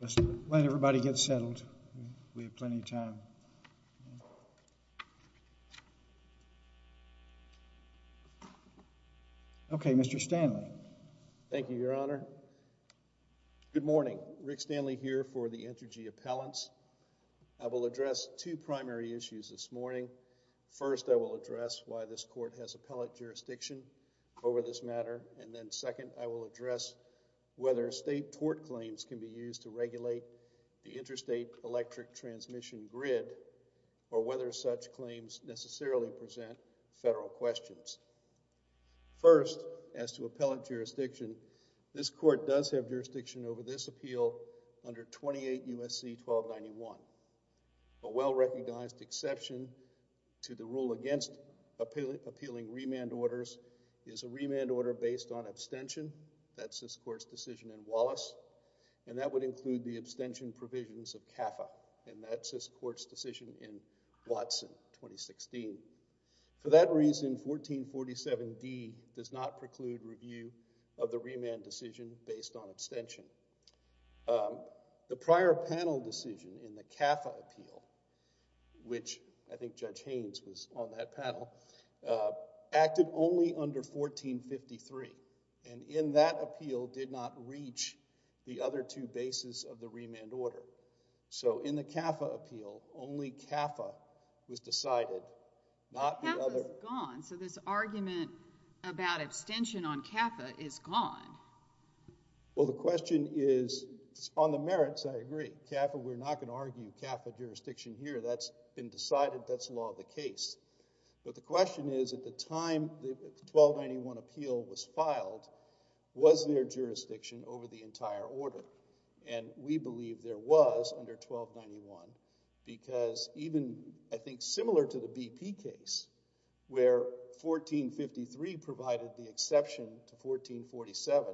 Let's let everybody get settled, we have plenty of time. Okay, Mr. Stanley. Thank you, Your Honor. Good morning. Rick Stanley here for the Entergy Appellants. I will address two primary issues this morning. First I will address why this court has appellate jurisdiction over this matter, and then second I will address whether state tort claims can be used to regulate the interstate electric transmission grid or whether such claims necessarily present federal questions. First as to appellate jurisdiction, this court does have jurisdiction over this appeal under 28 U.S.C. 1291. A well-recognized exception to the rule against appealing remand orders is a remand order based on abstention, that's this court's decision in Wallace, and that would include the abstention provisions of CAFA, and that's this court's decision in Watson, 2016. For that reason, 1447D does not preclude review of the remand decision based on abstention. The prior panel decision in the CAFA appeal, which I think Judge Haynes was on that panel, acted only under 1453, and in that appeal did not reach the other two bases of the remand order. So, in the CAFA appeal, only CAFA was decided, not the other... But CAFA's gone, so this argument about abstention on CAFA is gone. Well, the question is, on the merits I agree, CAFA, we're not going to argue CAFA jurisdiction here, that's been decided, that's the law of the case, but the question is, at the time the 1291 appeal was filed, was there jurisdiction over the entire order? And we believe there was, under 1291, because even, I think, similar to the BP case, where 1453 provided the exception to 1447,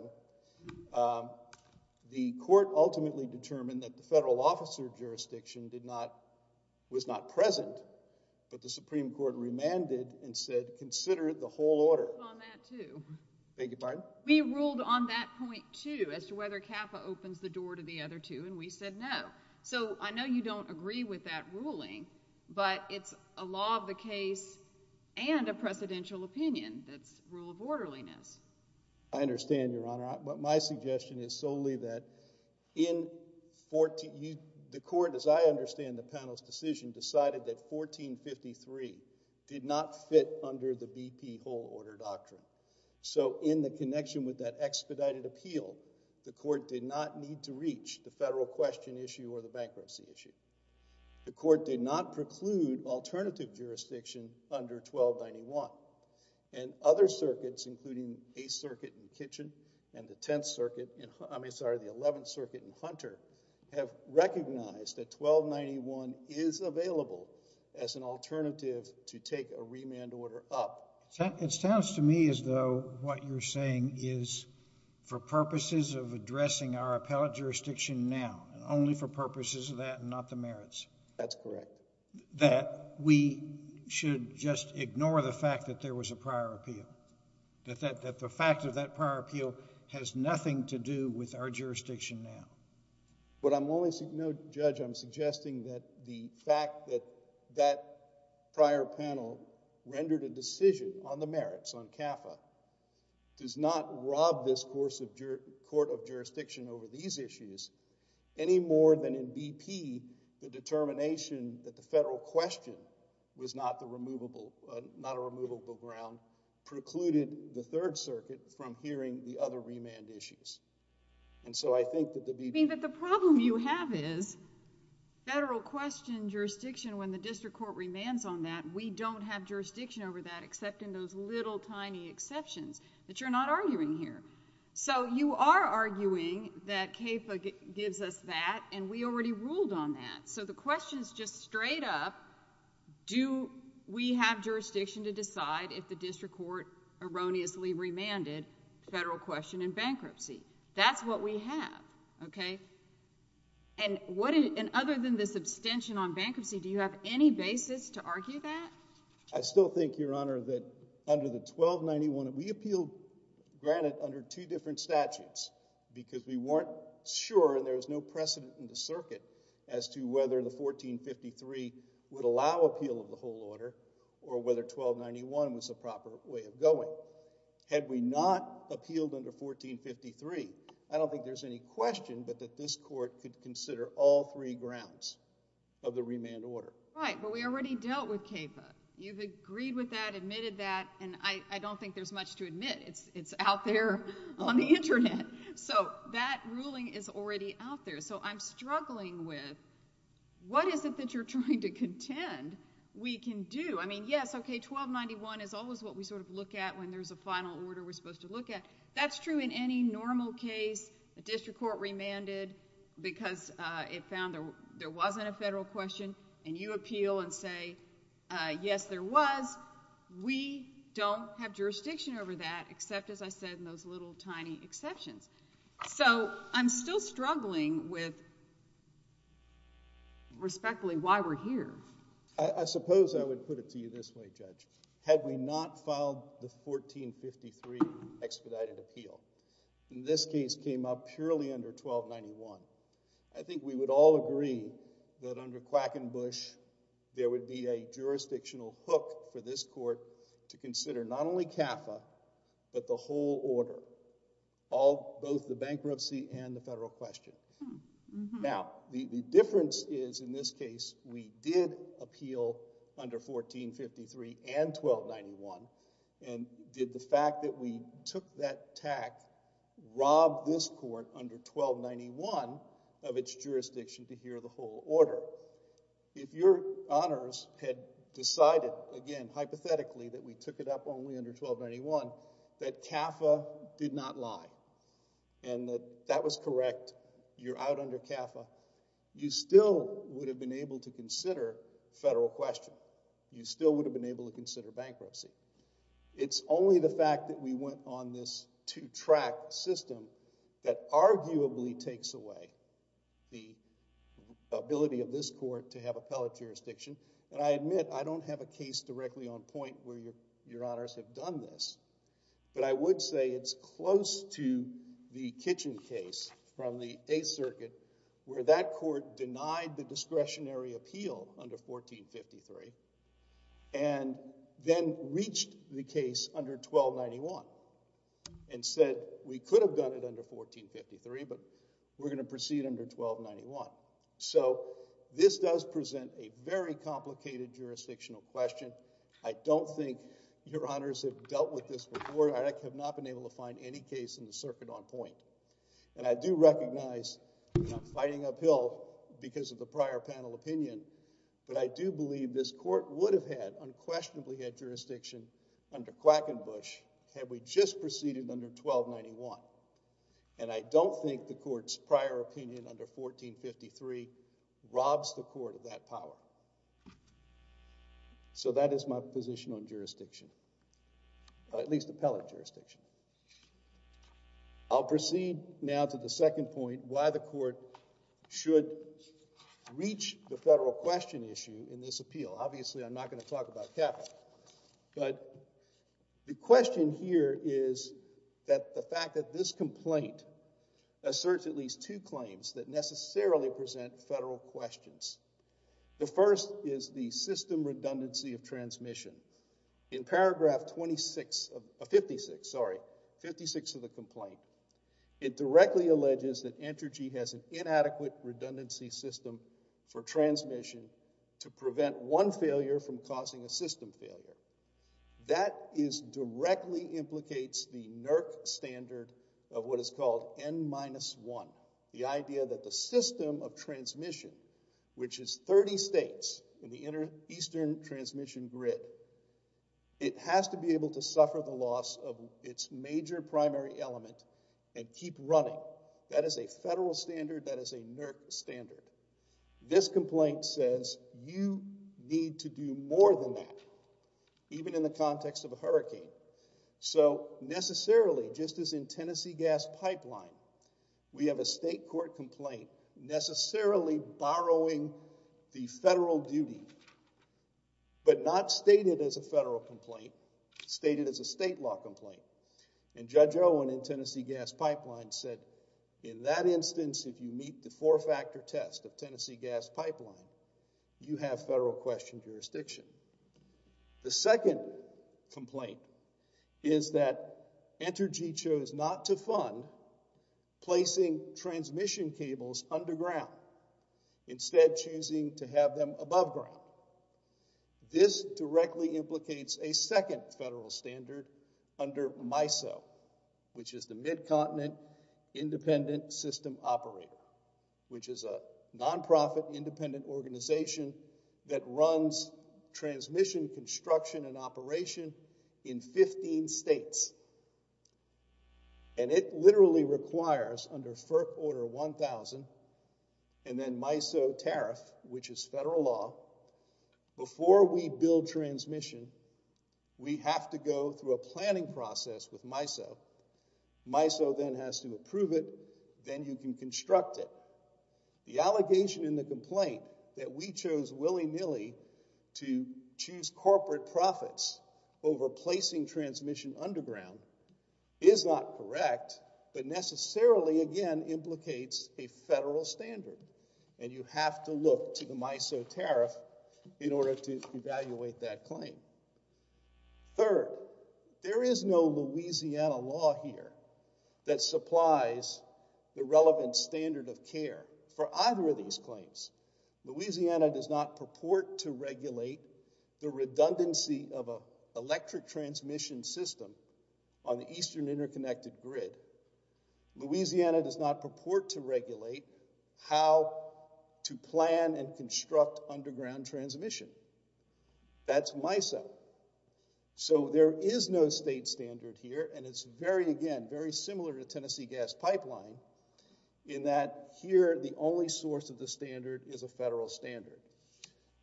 the court ultimately determined that the federal officer jurisdiction was not present, but the Supreme Court remanded and said, consider the whole order. Beg your pardon? And that opens the door to the other two, and we said no. So I know you don't agree with that ruling, but it's a law of the case and a precedential opinion that's rule of orderliness. I understand, Your Honor, but my suggestion is solely that in... the court, as I understand the panel's decision, decided that 1453 did not fit under the BP whole order doctrine. So in the connection with that expedited appeal, the court did not need to reach the federal question issue or the bankruptcy issue. The court did not preclude alternative jurisdiction under 1291, and other circuits, including a circuit in Kitchen and the 10th circuit, I mean, sorry, the 11th circuit in Hunter, have recognized that 1291 is available as an alternative to take a remand order up. It sounds to me as though what you're saying is for purposes of addressing our appellate jurisdiction now, and only for purposes of that and not the merits. That's correct. That we should just ignore the fact that there was a prior appeal, that the fact of that prior appeal has nothing to do with our jurisdiction now. But I'm only... no, Judge, I'm suggesting that the fact that that prior panel rendered a decision on the merits, on CAFA, does not rob this court of jurisdiction over these issues any more than in BP, the determination that the federal question was not a removable ground precluded the 3rd circuit from hearing the other remand issues. And so I think that the BP... I mean, but the problem you have is federal question jurisdiction, when the district court demands on that, we don't have jurisdiction over that except in those little tiny exceptions that you're not arguing here. So you are arguing that CAFA gives us that, and we already ruled on that. So the question is just straight up, do we have jurisdiction to decide if the district court erroneously remanded federal question in bankruptcy? That's what we have, okay? And what... and other than this abstention on bankruptcy, do you have any basis to argue that? I still think, Your Honor, that under the 1291... we appealed, granted, under two different statutes, because we weren't sure, and there was no precedent in the circuit as to whether the 1453 would allow appeal of the whole order, or whether 1291 was the proper way of going. So, had we not appealed under 1453, I don't think there's any question that this court could consider all three grounds of the remand order. Right, but we already dealt with CAFA. You've agreed with that, admitted that, and I don't think there's much to admit. It's out there on the internet. So that ruling is already out there. So I'm struggling with, what is it that you're trying to contend we can do? I mean, yes, okay, 1291 is always what we sort of look at when there's a final order we're supposed to look at. That's true in any normal case, a district court remanded because it found there wasn't a federal question, and you appeal and say, yes, there was. We don't have jurisdiction over that, except, as I said, in those little, tiny exceptions. So I'm still struggling with, respectfully, why we're here. I suppose I would put it to you this way, Judge. Had we not filed the 1453 expedited appeal, and this case came up purely under 1291, I think we would all agree that under Quackenbush, there would be a jurisdictional hook for this court to consider not only CAFA, but the whole order, both the bankruptcy and the federal question. Now, the difference is, in this case, we did appeal under 1453 and 1291, and did the fact that we took that tact rob this court under 1291 of its jurisdiction to hear the whole order. If your honors had decided, again, hypothetically, that we took it up only under 1291, that CAFA did not lie, and that that was correct, you're out under CAFA, you still would have been able to consider federal question. You still would have been able to consider bankruptcy. It's only the fact that we went on this two-track system that arguably takes away the ability of this court to have appellate jurisdiction, and I admit, I don't have a case directly on point where your honors have done this, but I would say it's close to the Kitchen case from the Eighth Circuit, where that court denied the discretionary appeal under 1453, and then reached the case under 1291, and said, we could have done it under 1453, but we're going to proceed under 1291. So this does present a very complicated jurisdictional question. I don't think your honors have dealt with this before, and I have not been able to find any case in the circuit on point, and I do recognize that I'm fighting uphill because of the prior panel opinion, but I do believe this court would have had unquestionably had jurisdiction under Quackenbush had we just proceeded under 1291, and I don't think the case under 1453 robs the court of that power. So that is my position on jurisdiction, at least appellate jurisdiction. I'll proceed now to the second point, why the court should reach the federal question issue in this appeal. Obviously, I'm not going to talk about capital, but the question here is that the fact that this complaint asserts at least two claims that necessarily present federal questions. The first is the system redundancy of transmission. In paragraph 56 of the complaint, it directly alleges that Entergy has an inadequate redundancy system for transmission to prevent one failure from causing a system failure. That directly implicates the NERC standard of what is called N-1, the idea that the system of transmission, which is 30 states in the eastern transmission grid, it has to be able to suffer the loss of its major primary element and keep running. That is a federal standard. That is a NERC standard. This complaint says you need to do more than that, even in the context of a hurricane. So necessarily, just as in Tennessee Gas Pipeline, we have a state court complaint necessarily borrowing the federal duty, but not stated as a federal complaint, stated as a state law complaint. And Judge Owen in Tennessee Gas Pipeline said, in that instance, if you meet the four-factor test of Tennessee Gas Pipeline, you have federal question jurisdiction. The second complaint is that Entergy chose not to fund placing transmission cables underground, instead choosing to have them above ground. This directly implicates a second federal standard under MISO, which is the Mid-Continent Independent System Operator, which is a nonprofit independent organization that runs transmission construction and operation in 15 states. And it literally requires, under FERC Order 1000, and then MISO tariff, which is federal law, before we build transmission, we have to go through a planning process with MISO. MISO then has to approve it, then you can construct it. The allegation in the complaint that we chose willy-nilly to choose corporate profits over placing transmission underground is not correct, but necessarily, again, implicates a federal standard, and you have to look to the MISO tariff in order to evaluate that claim. Third, there is no Louisiana law here that supplies the relevant standard of care for either of these claims. Louisiana does not purport to regulate the redundancy of an electric transmission system on the Eastern Interconnected Grid. Louisiana does not purport to regulate how to plan and construct underground transmission. That's MISO. So there is no state standard here, and it's very, again, very similar to Tennessee Gas Pipeline, in that here, the only source of the standard is a federal standard.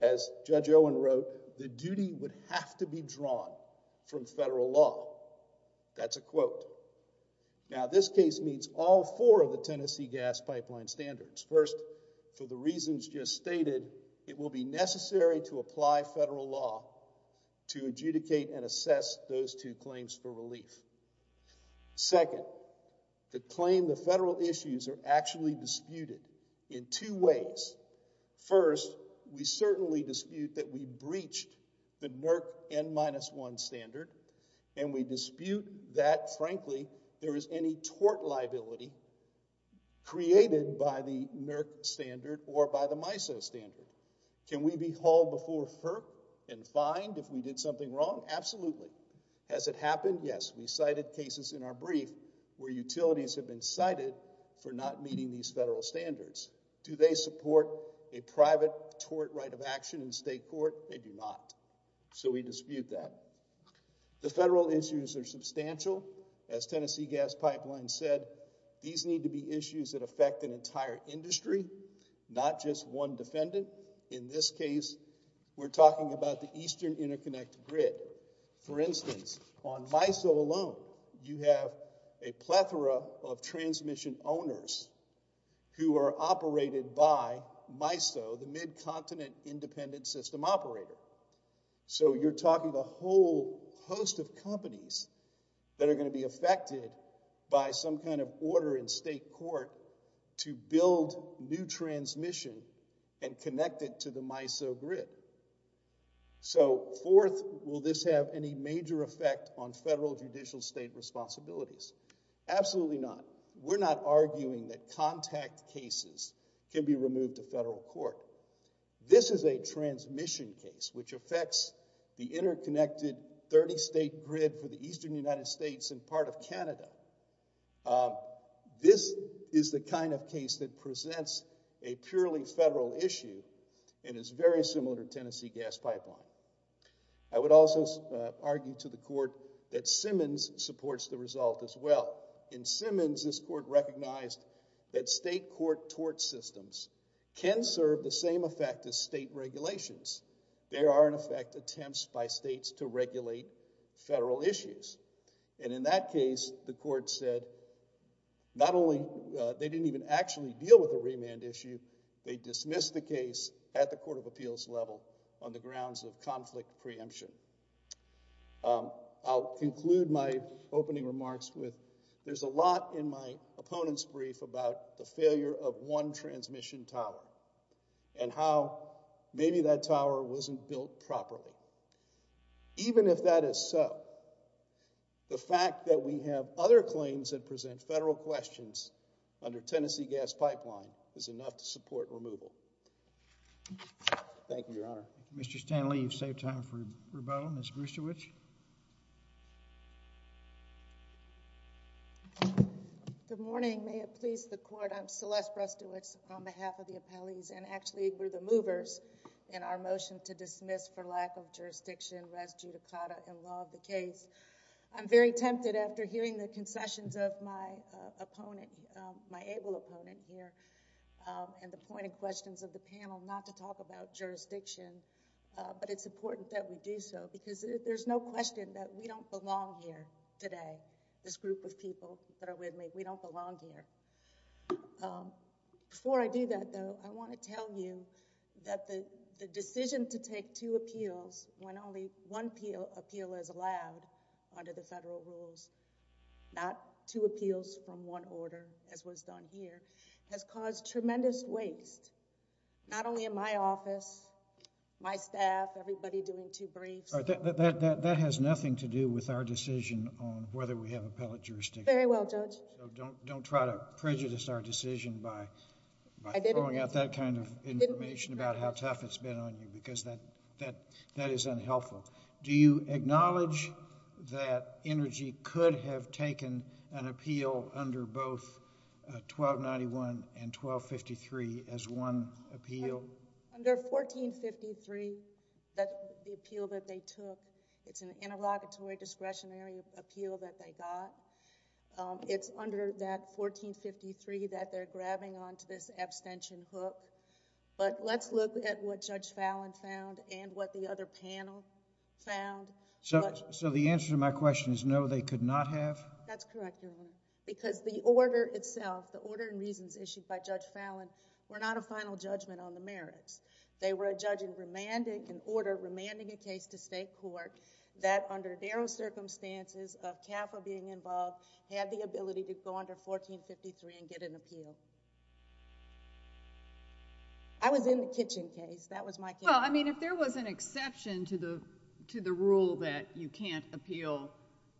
As Judge Owen wrote, the duty would have to be drawn from federal law. That's a quote. Now, this case meets all four of the Tennessee Gas Pipeline standards. First, for the reasons just stated, it will be necessary to apply federal law to adjudicate and assess those two claims for relief. Second, the claim, the federal issues are actually disputed in two ways. First, we certainly dispute that we breached the NERC N-1 standard, and we dispute that, frankly, there is any tort liability created by the NERC standard or by the MISO standard. Can we be hauled before FERC and fined if we did something wrong? Absolutely. Has it happened? Yes. We cited cases in our brief where utilities have been cited for not meeting these federal standards. Do they support a private tort right of action in state court? They do not. So we dispute that. The federal issues are substantial. As Tennessee Gas Pipeline said, these need to be issues that affect an entire industry, not just one defendant. In this case, we're talking about the Eastern Interconnect grid. For instance, on MISO alone, you have a plethora of transmission owners who are operated by MISO, the Mid-Continent Independent System Operator. So you're talking a whole host of companies that are going to be affected by some kind of order in state court to build new transmission and connect it to the MISO grid. So, fourth, will this have any major effect on federal judicial state responsibilities? Absolutely not. We're not arguing that contact cases can be removed to federal court. This is a transmission case, which affects the interconnected 30-state grid for the Eastern United States and part of Canada. This is the kind of case that presents a purely federal issue and is very similar to Tennessee Gas Pipeline. I would also argue to the court that Simmons supports the result as well. In Simmons, this court recognized that state court tort systems can serve the same effect as state regulations. There are, in effect, attempts by states to regulate federal issues. And in that case, the court said, not only they didn't even actually deal with the remand issue, they dismissed the case at the court of appeals level on the grounds of conflict preemption. I'll conclude my opening remarks with, there's a lot in my opponent's brief about the failure of one transmission tower and how maybe that tower wasn't built properly. Even if that is so, the fact that we have other claims that present federal questions under Tennessee Gas Pipeline is enough to support removal. Thank you, Your Honor. Mr. Stanley, you've saved time for rebuttal. Ms. Brustewich? Good morning. May it please the court, I'm Celeste Brustewich on behalf of the appellees and actually we're the movers in our motion to dismiss for lack of jurisdiction, res judicata, and law of the case. I'm very tempted after hearing the concessions of my opponent, my able opponent here, and the pointed questions of the panel, not to talk about jurisdiction, but it's important that we do so because there's no question that we don't belong here today, this group of people that are with me, we don't belong here. Before I do that though, I want to tell you that the decision to take two appeals when only one appeal is allowed under the federal rules, not two appeals from one order as was done here, has caused tremendous waste, not only in my office, my staff, everybody doing two briefs. That has nothing to do with our decision on whether we have appellate jurisdiction. Very well, Judge. So don't try to prejudice our decision by throwing out that kind of information about how tough it's been on you because that is unhelpful. Do you acknowledge that Energy could have taken an appeal under both 1291 and 1253 as one appeal? Under 1453, the appeal that they took, it's an interlocutory discretionary appeal that they got. It's under that 1453 that they're grabbing on to this abstention hook, but let's look at what Judge Fallin found and what the other panel found. So the answer to my question is no, they could not have? That's correct, Your Honor, because the order itself, the order and reasons issued by Judge Fallin were not a final judgment on the merits. They were a judge in remanding an order, remanding a case to state court that under the barrow circumstances of CAFA being involved, had the ability to go under 1453 and get an appeal. I was in the Kitchen case. That was my case. Well, I mean, if there was an exception to the rule that you can't appeal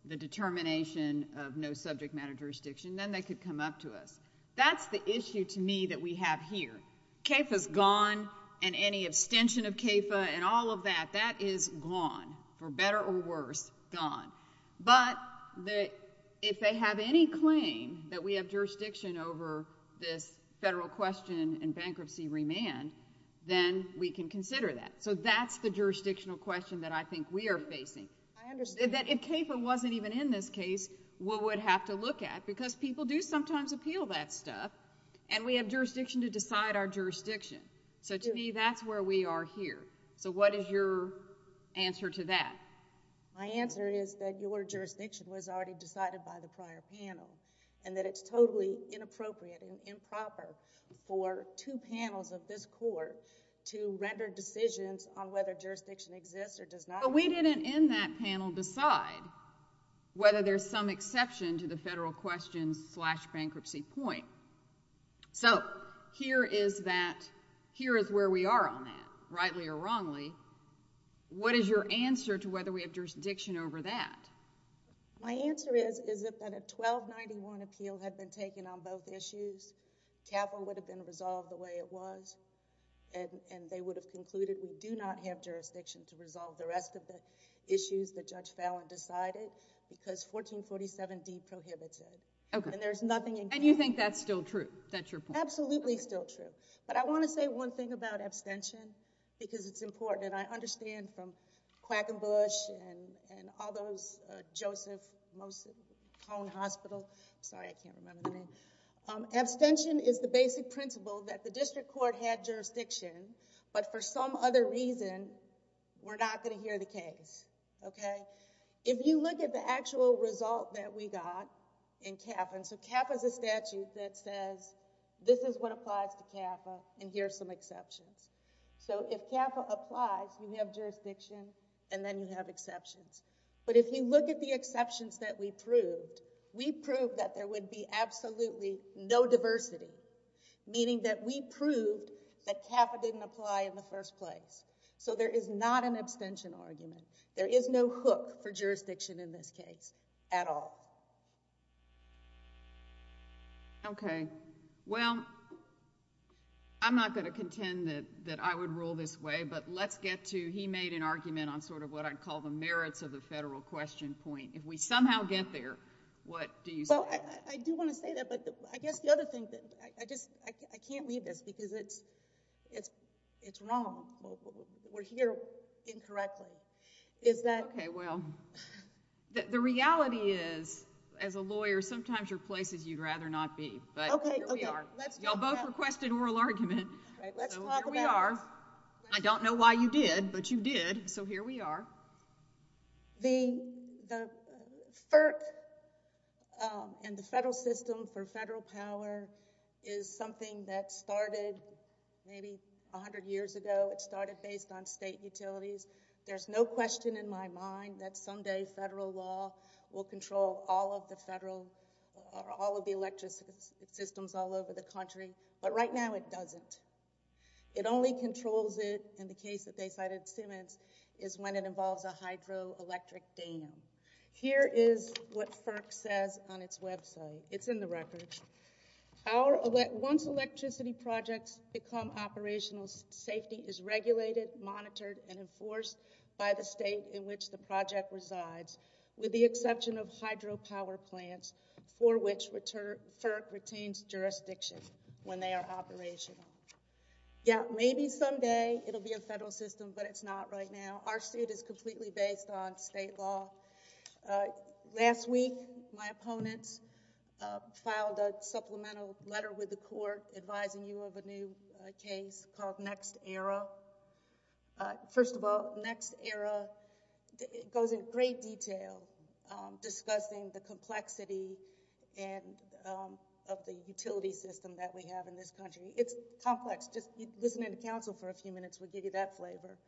the determination of no subject matter jurisdiction, then they could come up to us. That's the issue to me that we have here. CAFA's gone and any abstention of CAFA and all of that, that is gone for better or worse. Gone. But if they have any claim that we have jurisdiction over this federal question in bankruptcy remand, then we can consider that. So that's the jurisdictional question that I think we are facing. I understand. If CAFA wasn't even in this case, we would have to look at, because people do sometimes appeal that stuff and we have jurisdiction to decide our jurisdiction. So to me, that's where we are here. So what is your answer to that? My answer is that your jurisdiction was already decided by the prior panel and that it's totally inappropriate and improper for two panels of this court to render decisions on whether jurisdiction exists or does not exist. We didn't in that panel decide whether there's some exception to the federal question slash bankruptcy point. So here is where we are on that, rightly or wrongly. What is your answer to whether we have jurisdiction over that? My answer is, is it that a 1291 appeal had been taken on both issues, CAFA would have been resolved the way it was, and they would have concluded we do not have jurisdiction to resolve the rest of the issues that Judge Fallin decided, because 1447D prohibited. Okay. And there's nothing in case... And you think that's still true? That's your point? Absolutely still true. But I want to say one thing about abstention, because it's important, and I understand from Quackenbush and all those... Joseph... Cone Hospital... I'm sorry, I can't remember the name. Abstention is the basic principle that the district court had jurisdiction, but for some other reason, we're not going to hear the case, okay? If you look at the actual result that we got in CAFA... and so CAFA is a statute that says, this is what applies to CAFA, and here's some exceptions. So if CAFA applies, you have jurisdiction, and then you have exceptions. But if you look at the exceptions that we proved, we proved that there would be absolutely no diversity, meaning that we proved that CAFA didn't apply in the first place. So there is not an abstention argument. There is no hook for jurisdiction in this case at all. Okay. Well, I'm not going to contend that I would rule this way, but let's get to... he made an argument on sort of what I'd call the merits of the federal question point. If we somehow get there, what do you say? Well, I do want to say that, but I guess the other thing that... I just... I can't leave this, because it's wrong. We're here incorrectly. Is that... Okay. Well, the reality is, as a lawyer, sometimes your place is you'd rather not be, but here we are. Okay. Let's talk about... Y'all both requested oral argument. Right. Let's talk about... So here we are. I don't know why you did, but you did, so here we are. The FERC and the federal system for federal power is something that started maybe a hundred years ago. It started based on state utilities. There's no question in my mind that someday federal law will control all of the federal... all of the electric systems all over the country, but right now it doesn't. It only controls it, in the case that they cited Simmons, is when it involves a hydroelectric dam. Here is what FERC says on its website. It's in the record. Our... once electricity projects become operational, safety is regulated, monitored, and enforced by the state in which the project resides, with the exception of hydropower plants, for which FERC retains jurisdiction when they are operational. Yeah, maybe someday it'll be a federal system, but it's not right now. Our suit is completely based on state law. Last week, my opponents filed a supplemental letter with the court advising you of a new case called Next Era. First of all, Next Era goes in great detail discussing the complexity of the utility system that we have in this country. It's complex. Just listening to counsel for a few minutes will give you that flavor,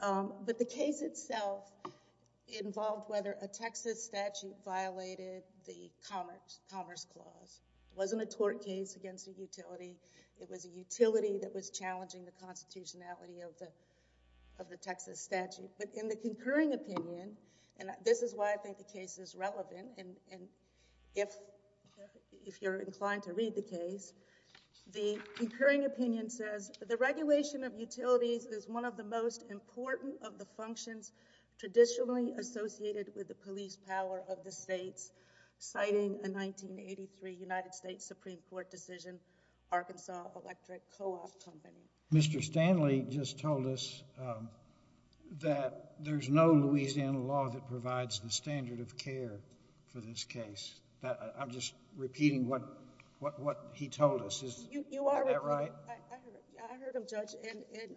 but the case itself involved whether a Texas statute violated the Commerce Clause. It wasn't a tort case against a utility. It was a utility that was challenging the constitutionality of the Texas statute. In the concurring opinion, and this is why I think the case is relevant, and if you're inclined to read the case, the concurring opinion says, the regulation of utilities is one of the most important of the functions traditionally associated with the police power of the states, citing a 1983 United States Supreme Court decision, Arkansas Electric Co-op Company. Mr. Stanley just told us that there's no Louisiana law that provides the standard of care for this case. I'm just repeating what he told us. Is that right? I heard him, Judge.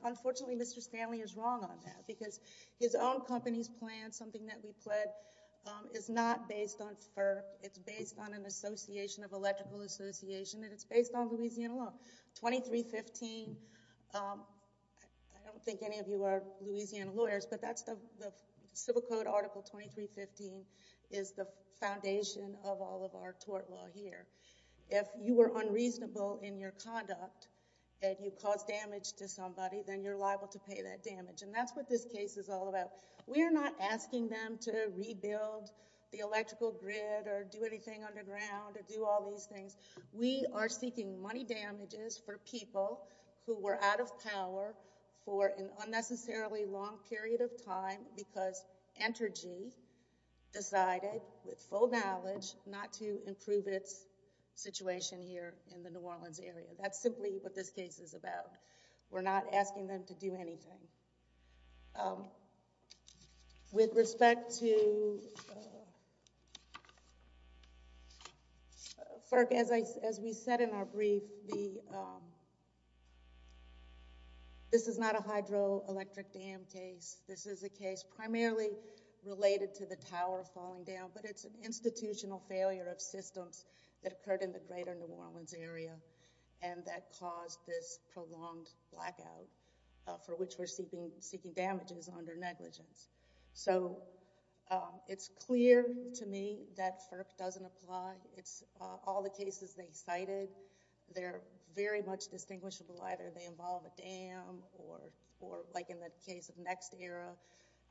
Unfortunately, Mr. Stanley is wrong on that, because his own company's plan, something that we pled, is not based on FERC. It's based on an association of electrical association, and it's based on Louisiana law. 2315, I don't think any of you are Louisiana lawyers, but the Civil Code Article 2315 is the foundation of all of our tort law here. If you were unreasonable in your conduct, and you caused damage to somebody, then you're liable to pay that damage, and that's what this case is all about. We're not asking them to rebuild the electrical grid, or do anything underground, or do all these things. We are seeking money damages for people who were out of power for an unnecessarily long period of time, because Entergy decided, with full knowledge, not to improve its situation here in the New Orleans area. That's simply what this case is about. We're not asking them to do anything. With respect to... FERC, as we said in our brief, this is not a hydroelectric dam case. This is a case primarily related to the tower falling down, but it's an institutional failure of systems that occurred in the greater New Orleans area, and that caused this prolonged blackout for which we're seeking damages under negligence. It's clear to me that FERC doesn't apply. All the cases they cited, they're very much distinguishable. Either they involve a dam, or like in the case of Next Era,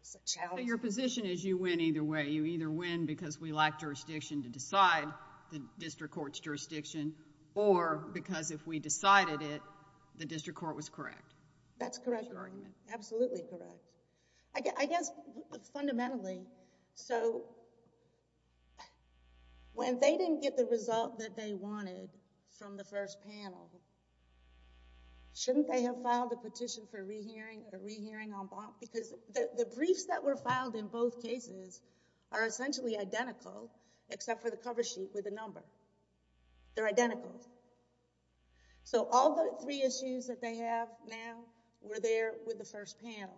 it's a challenge. Your position is you win either way. You either win because we lack jurisdiction to decide the district court's jurisdiction, or because if we decided it, the district court was correct. That's correct. That's your argument. Absolutely correct. I guess, fundamentally, when they didn't get the result that they wanted from the first panel, shouldn't they have filed a petition for a rehearing or a rehearing en banc? Because the briefs that were filed in both cases are essentially identical, except for the cover sheet with the number. They're identical. So all the three issues that they have now were there with the first panel.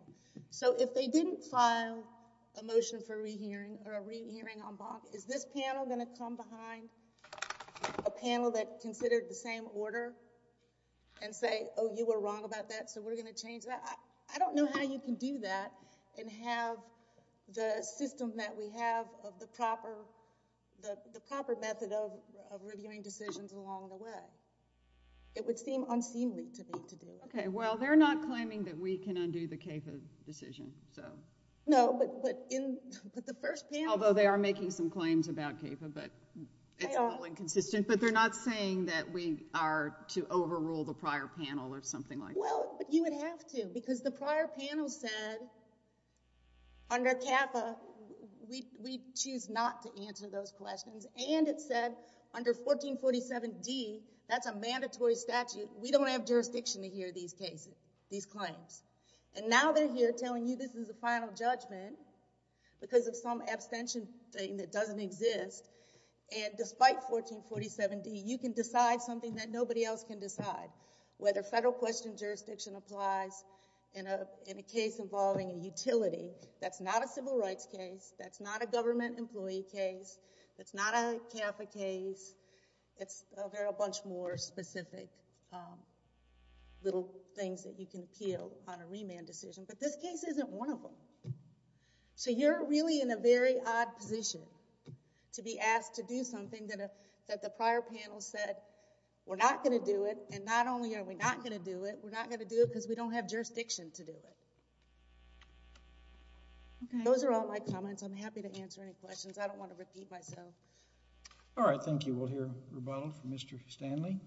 So if they didn't file a motion for a rehearing or a rehearing en banc, is this panel going to come behind a panel that considered the same order and say, oh, you were wrong about that, so we're going to change that? I don't know how you can do that and have the system that we have of the proper method of reviewing decisions along the way. It would seem unseemly to me to do it. Okay. Well, they're not claiming that we can undo the CAFA decision. No, but the first panel— It's all inconsistent, but they're not saying that we are to overrule the prior panel or something like that. Well, you would have to, because the prior panel said under CAFA, we choose not to answer those questions. And it said under 1447D, that's a mandatory statute. We don't have jurisdiction to hear these claims. And now they're here telling you this is a final judgment because of some abstention thing that doesn't exist. And despite 1447D, you can decide something that nobody else can decide, whether federal question jurisdiction applies in a case involving a utility. That's not a civil rights case. That's not a government employee case. That's not a CAFA case. It's a whole bunch more specific little things that you can appeal on a remand decision. But this case isn't one of them. So you're really in a very odd position to be asked to do something that the prior panel said we're not going to do it. And not only are we not going to do it, we're not going to do it because we don't have jurisdiction to do it. Those are all my comments. I'm happy to answer any questions. I don't want to repeat myself. All right. Thank you. We'll hear a rebuttal from Mr. Stanley.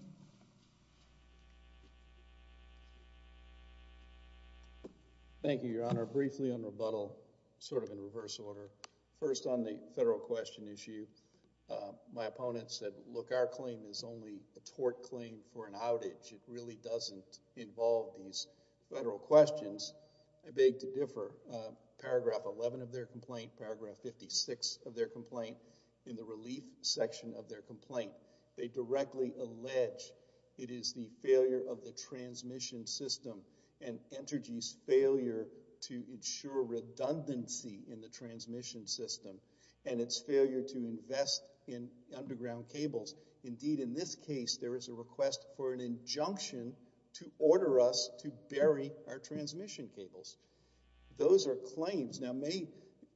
Thank you, Your Honor. Your Honor, briefly on rebuttal, sort of in reverse order. First on the federal question issue, my opponent said, look, our claim is only a tort claim for an outage. It really doesn't involve these federal questions. I beg to differ. Paragraph 11 of their complaint, paragraph 56 of their complaint, in the relief section of their complaint, they directly allege it is the failure of the transmission system and Entergy's failure to ensure redundancy in the transmission system and its failure to invest in underground cables. Indeed, in this case, there is a request for an injunction to order us to bury our transmission cables. Those are claims. Now,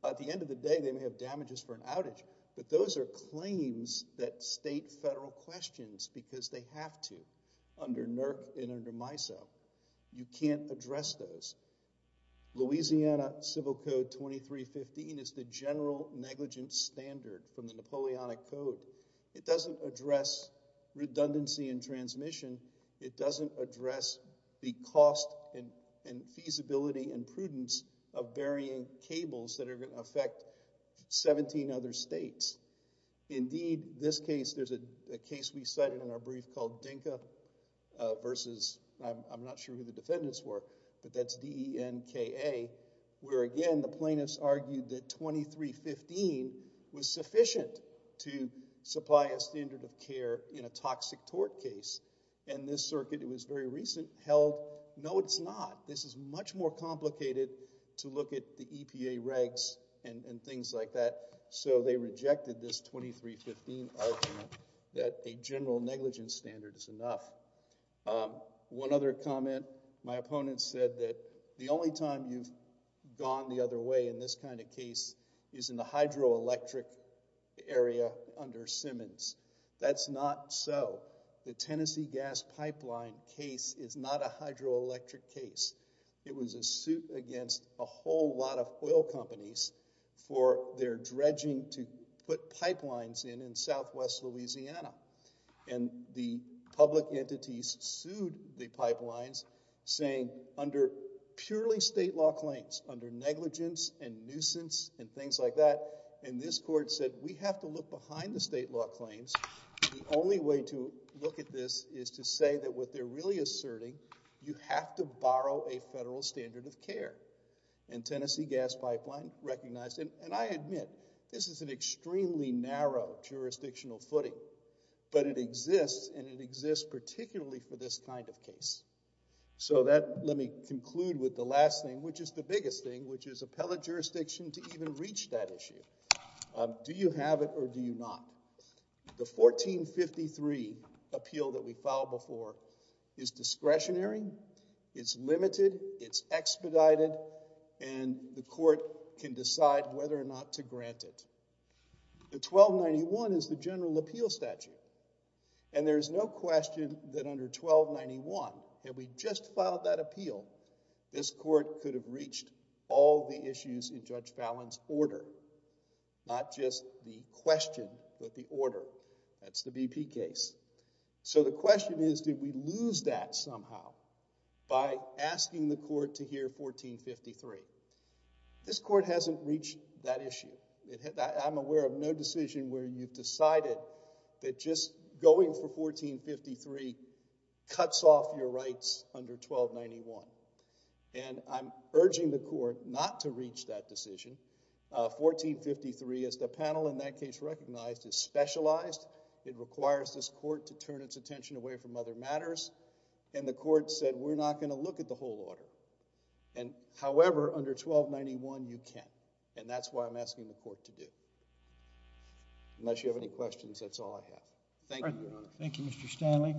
at the end of the day, they may have damages for an outage, but those are claims that state federal questions because they have to under NERC and under MISO. You can't address those. Louisiana Civil Code 2315 is the general negligence standard from the Napoleonic Code. It doesn't address redundancy in transmission. It doesn't address the cost and feasibility and prudence of burying cables that are going to affect 17 other states. Indeed, this case, there's a case we cited in our brief called Dinka versus, I'm not sure who the defendants were, but that's D-E-N-K-A, where again, the plaintiffs argued that 2315 was sufficient to supply a standard of care in a toxic tort case. This circuit, it was very recent, held, no, it's not. This is much more complicated to look at the EPA regs and things like that. So they rejected this 2315 argument that a general negligence standard is enough. One other comment, my opponent said that the only time you've gone the other way in this kind of case is in the hydroelectric area under Simmons. That's not so. The Tennessee Gas Pipeline case is not a hydroelectric case. It was a suit against a whole lot of oil companies for their dredging to put pipelines in in southwest Louisiana. And the public entities sued the pipelines, saying under purely state law claims, under negligence and nuisance and things like that, and this court said, we have to look behind the state law claims. The only way to look at this is to say that what they're really asserting, you have to have a federal standard of care. And Tennessee Gas Pipeline recognized, and I admit, this is an extremely narrow jurisdictional footing, but it exists, and it exists particularly for this kind of case. So that, let me conclude with the last thing, which is the biggest thing, which is appellate jurisdiction to even reach that issue. Do you have it or do you not? The 1453 appeal that we filed before is discretionary, it's limited, it's expedited, and the court can decide whether or not to grant it. The 1291 is the general appeal statute. And there's no question that under 1291, had we just filed that appeal, this court could have reached all the issues in Judge Fallin's order, not just the question, but the order. That's the BP case. So the question is, did we lose that somehow by asking the court to hear 1453? This court hasn't reached that issue. I'm aware of no decision where you've decided that just going for 1453 cuts off your rights under 1291. And I'm urging the court not to reach that decision. 1453, as the panel in that case recognized, is specialized. It requires this court to turn its attention away from other matters. And the court said, we're not going to look at the whole order. And however, under 1291, you can. And that's why I'm asking the court to do, unless you have any questions, that's all I have. Thank you, Your Honor. Thank you, Mr. Stanley.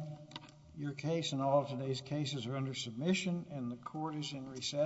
Your case and all of today's cases are under submission, and the court is in recess.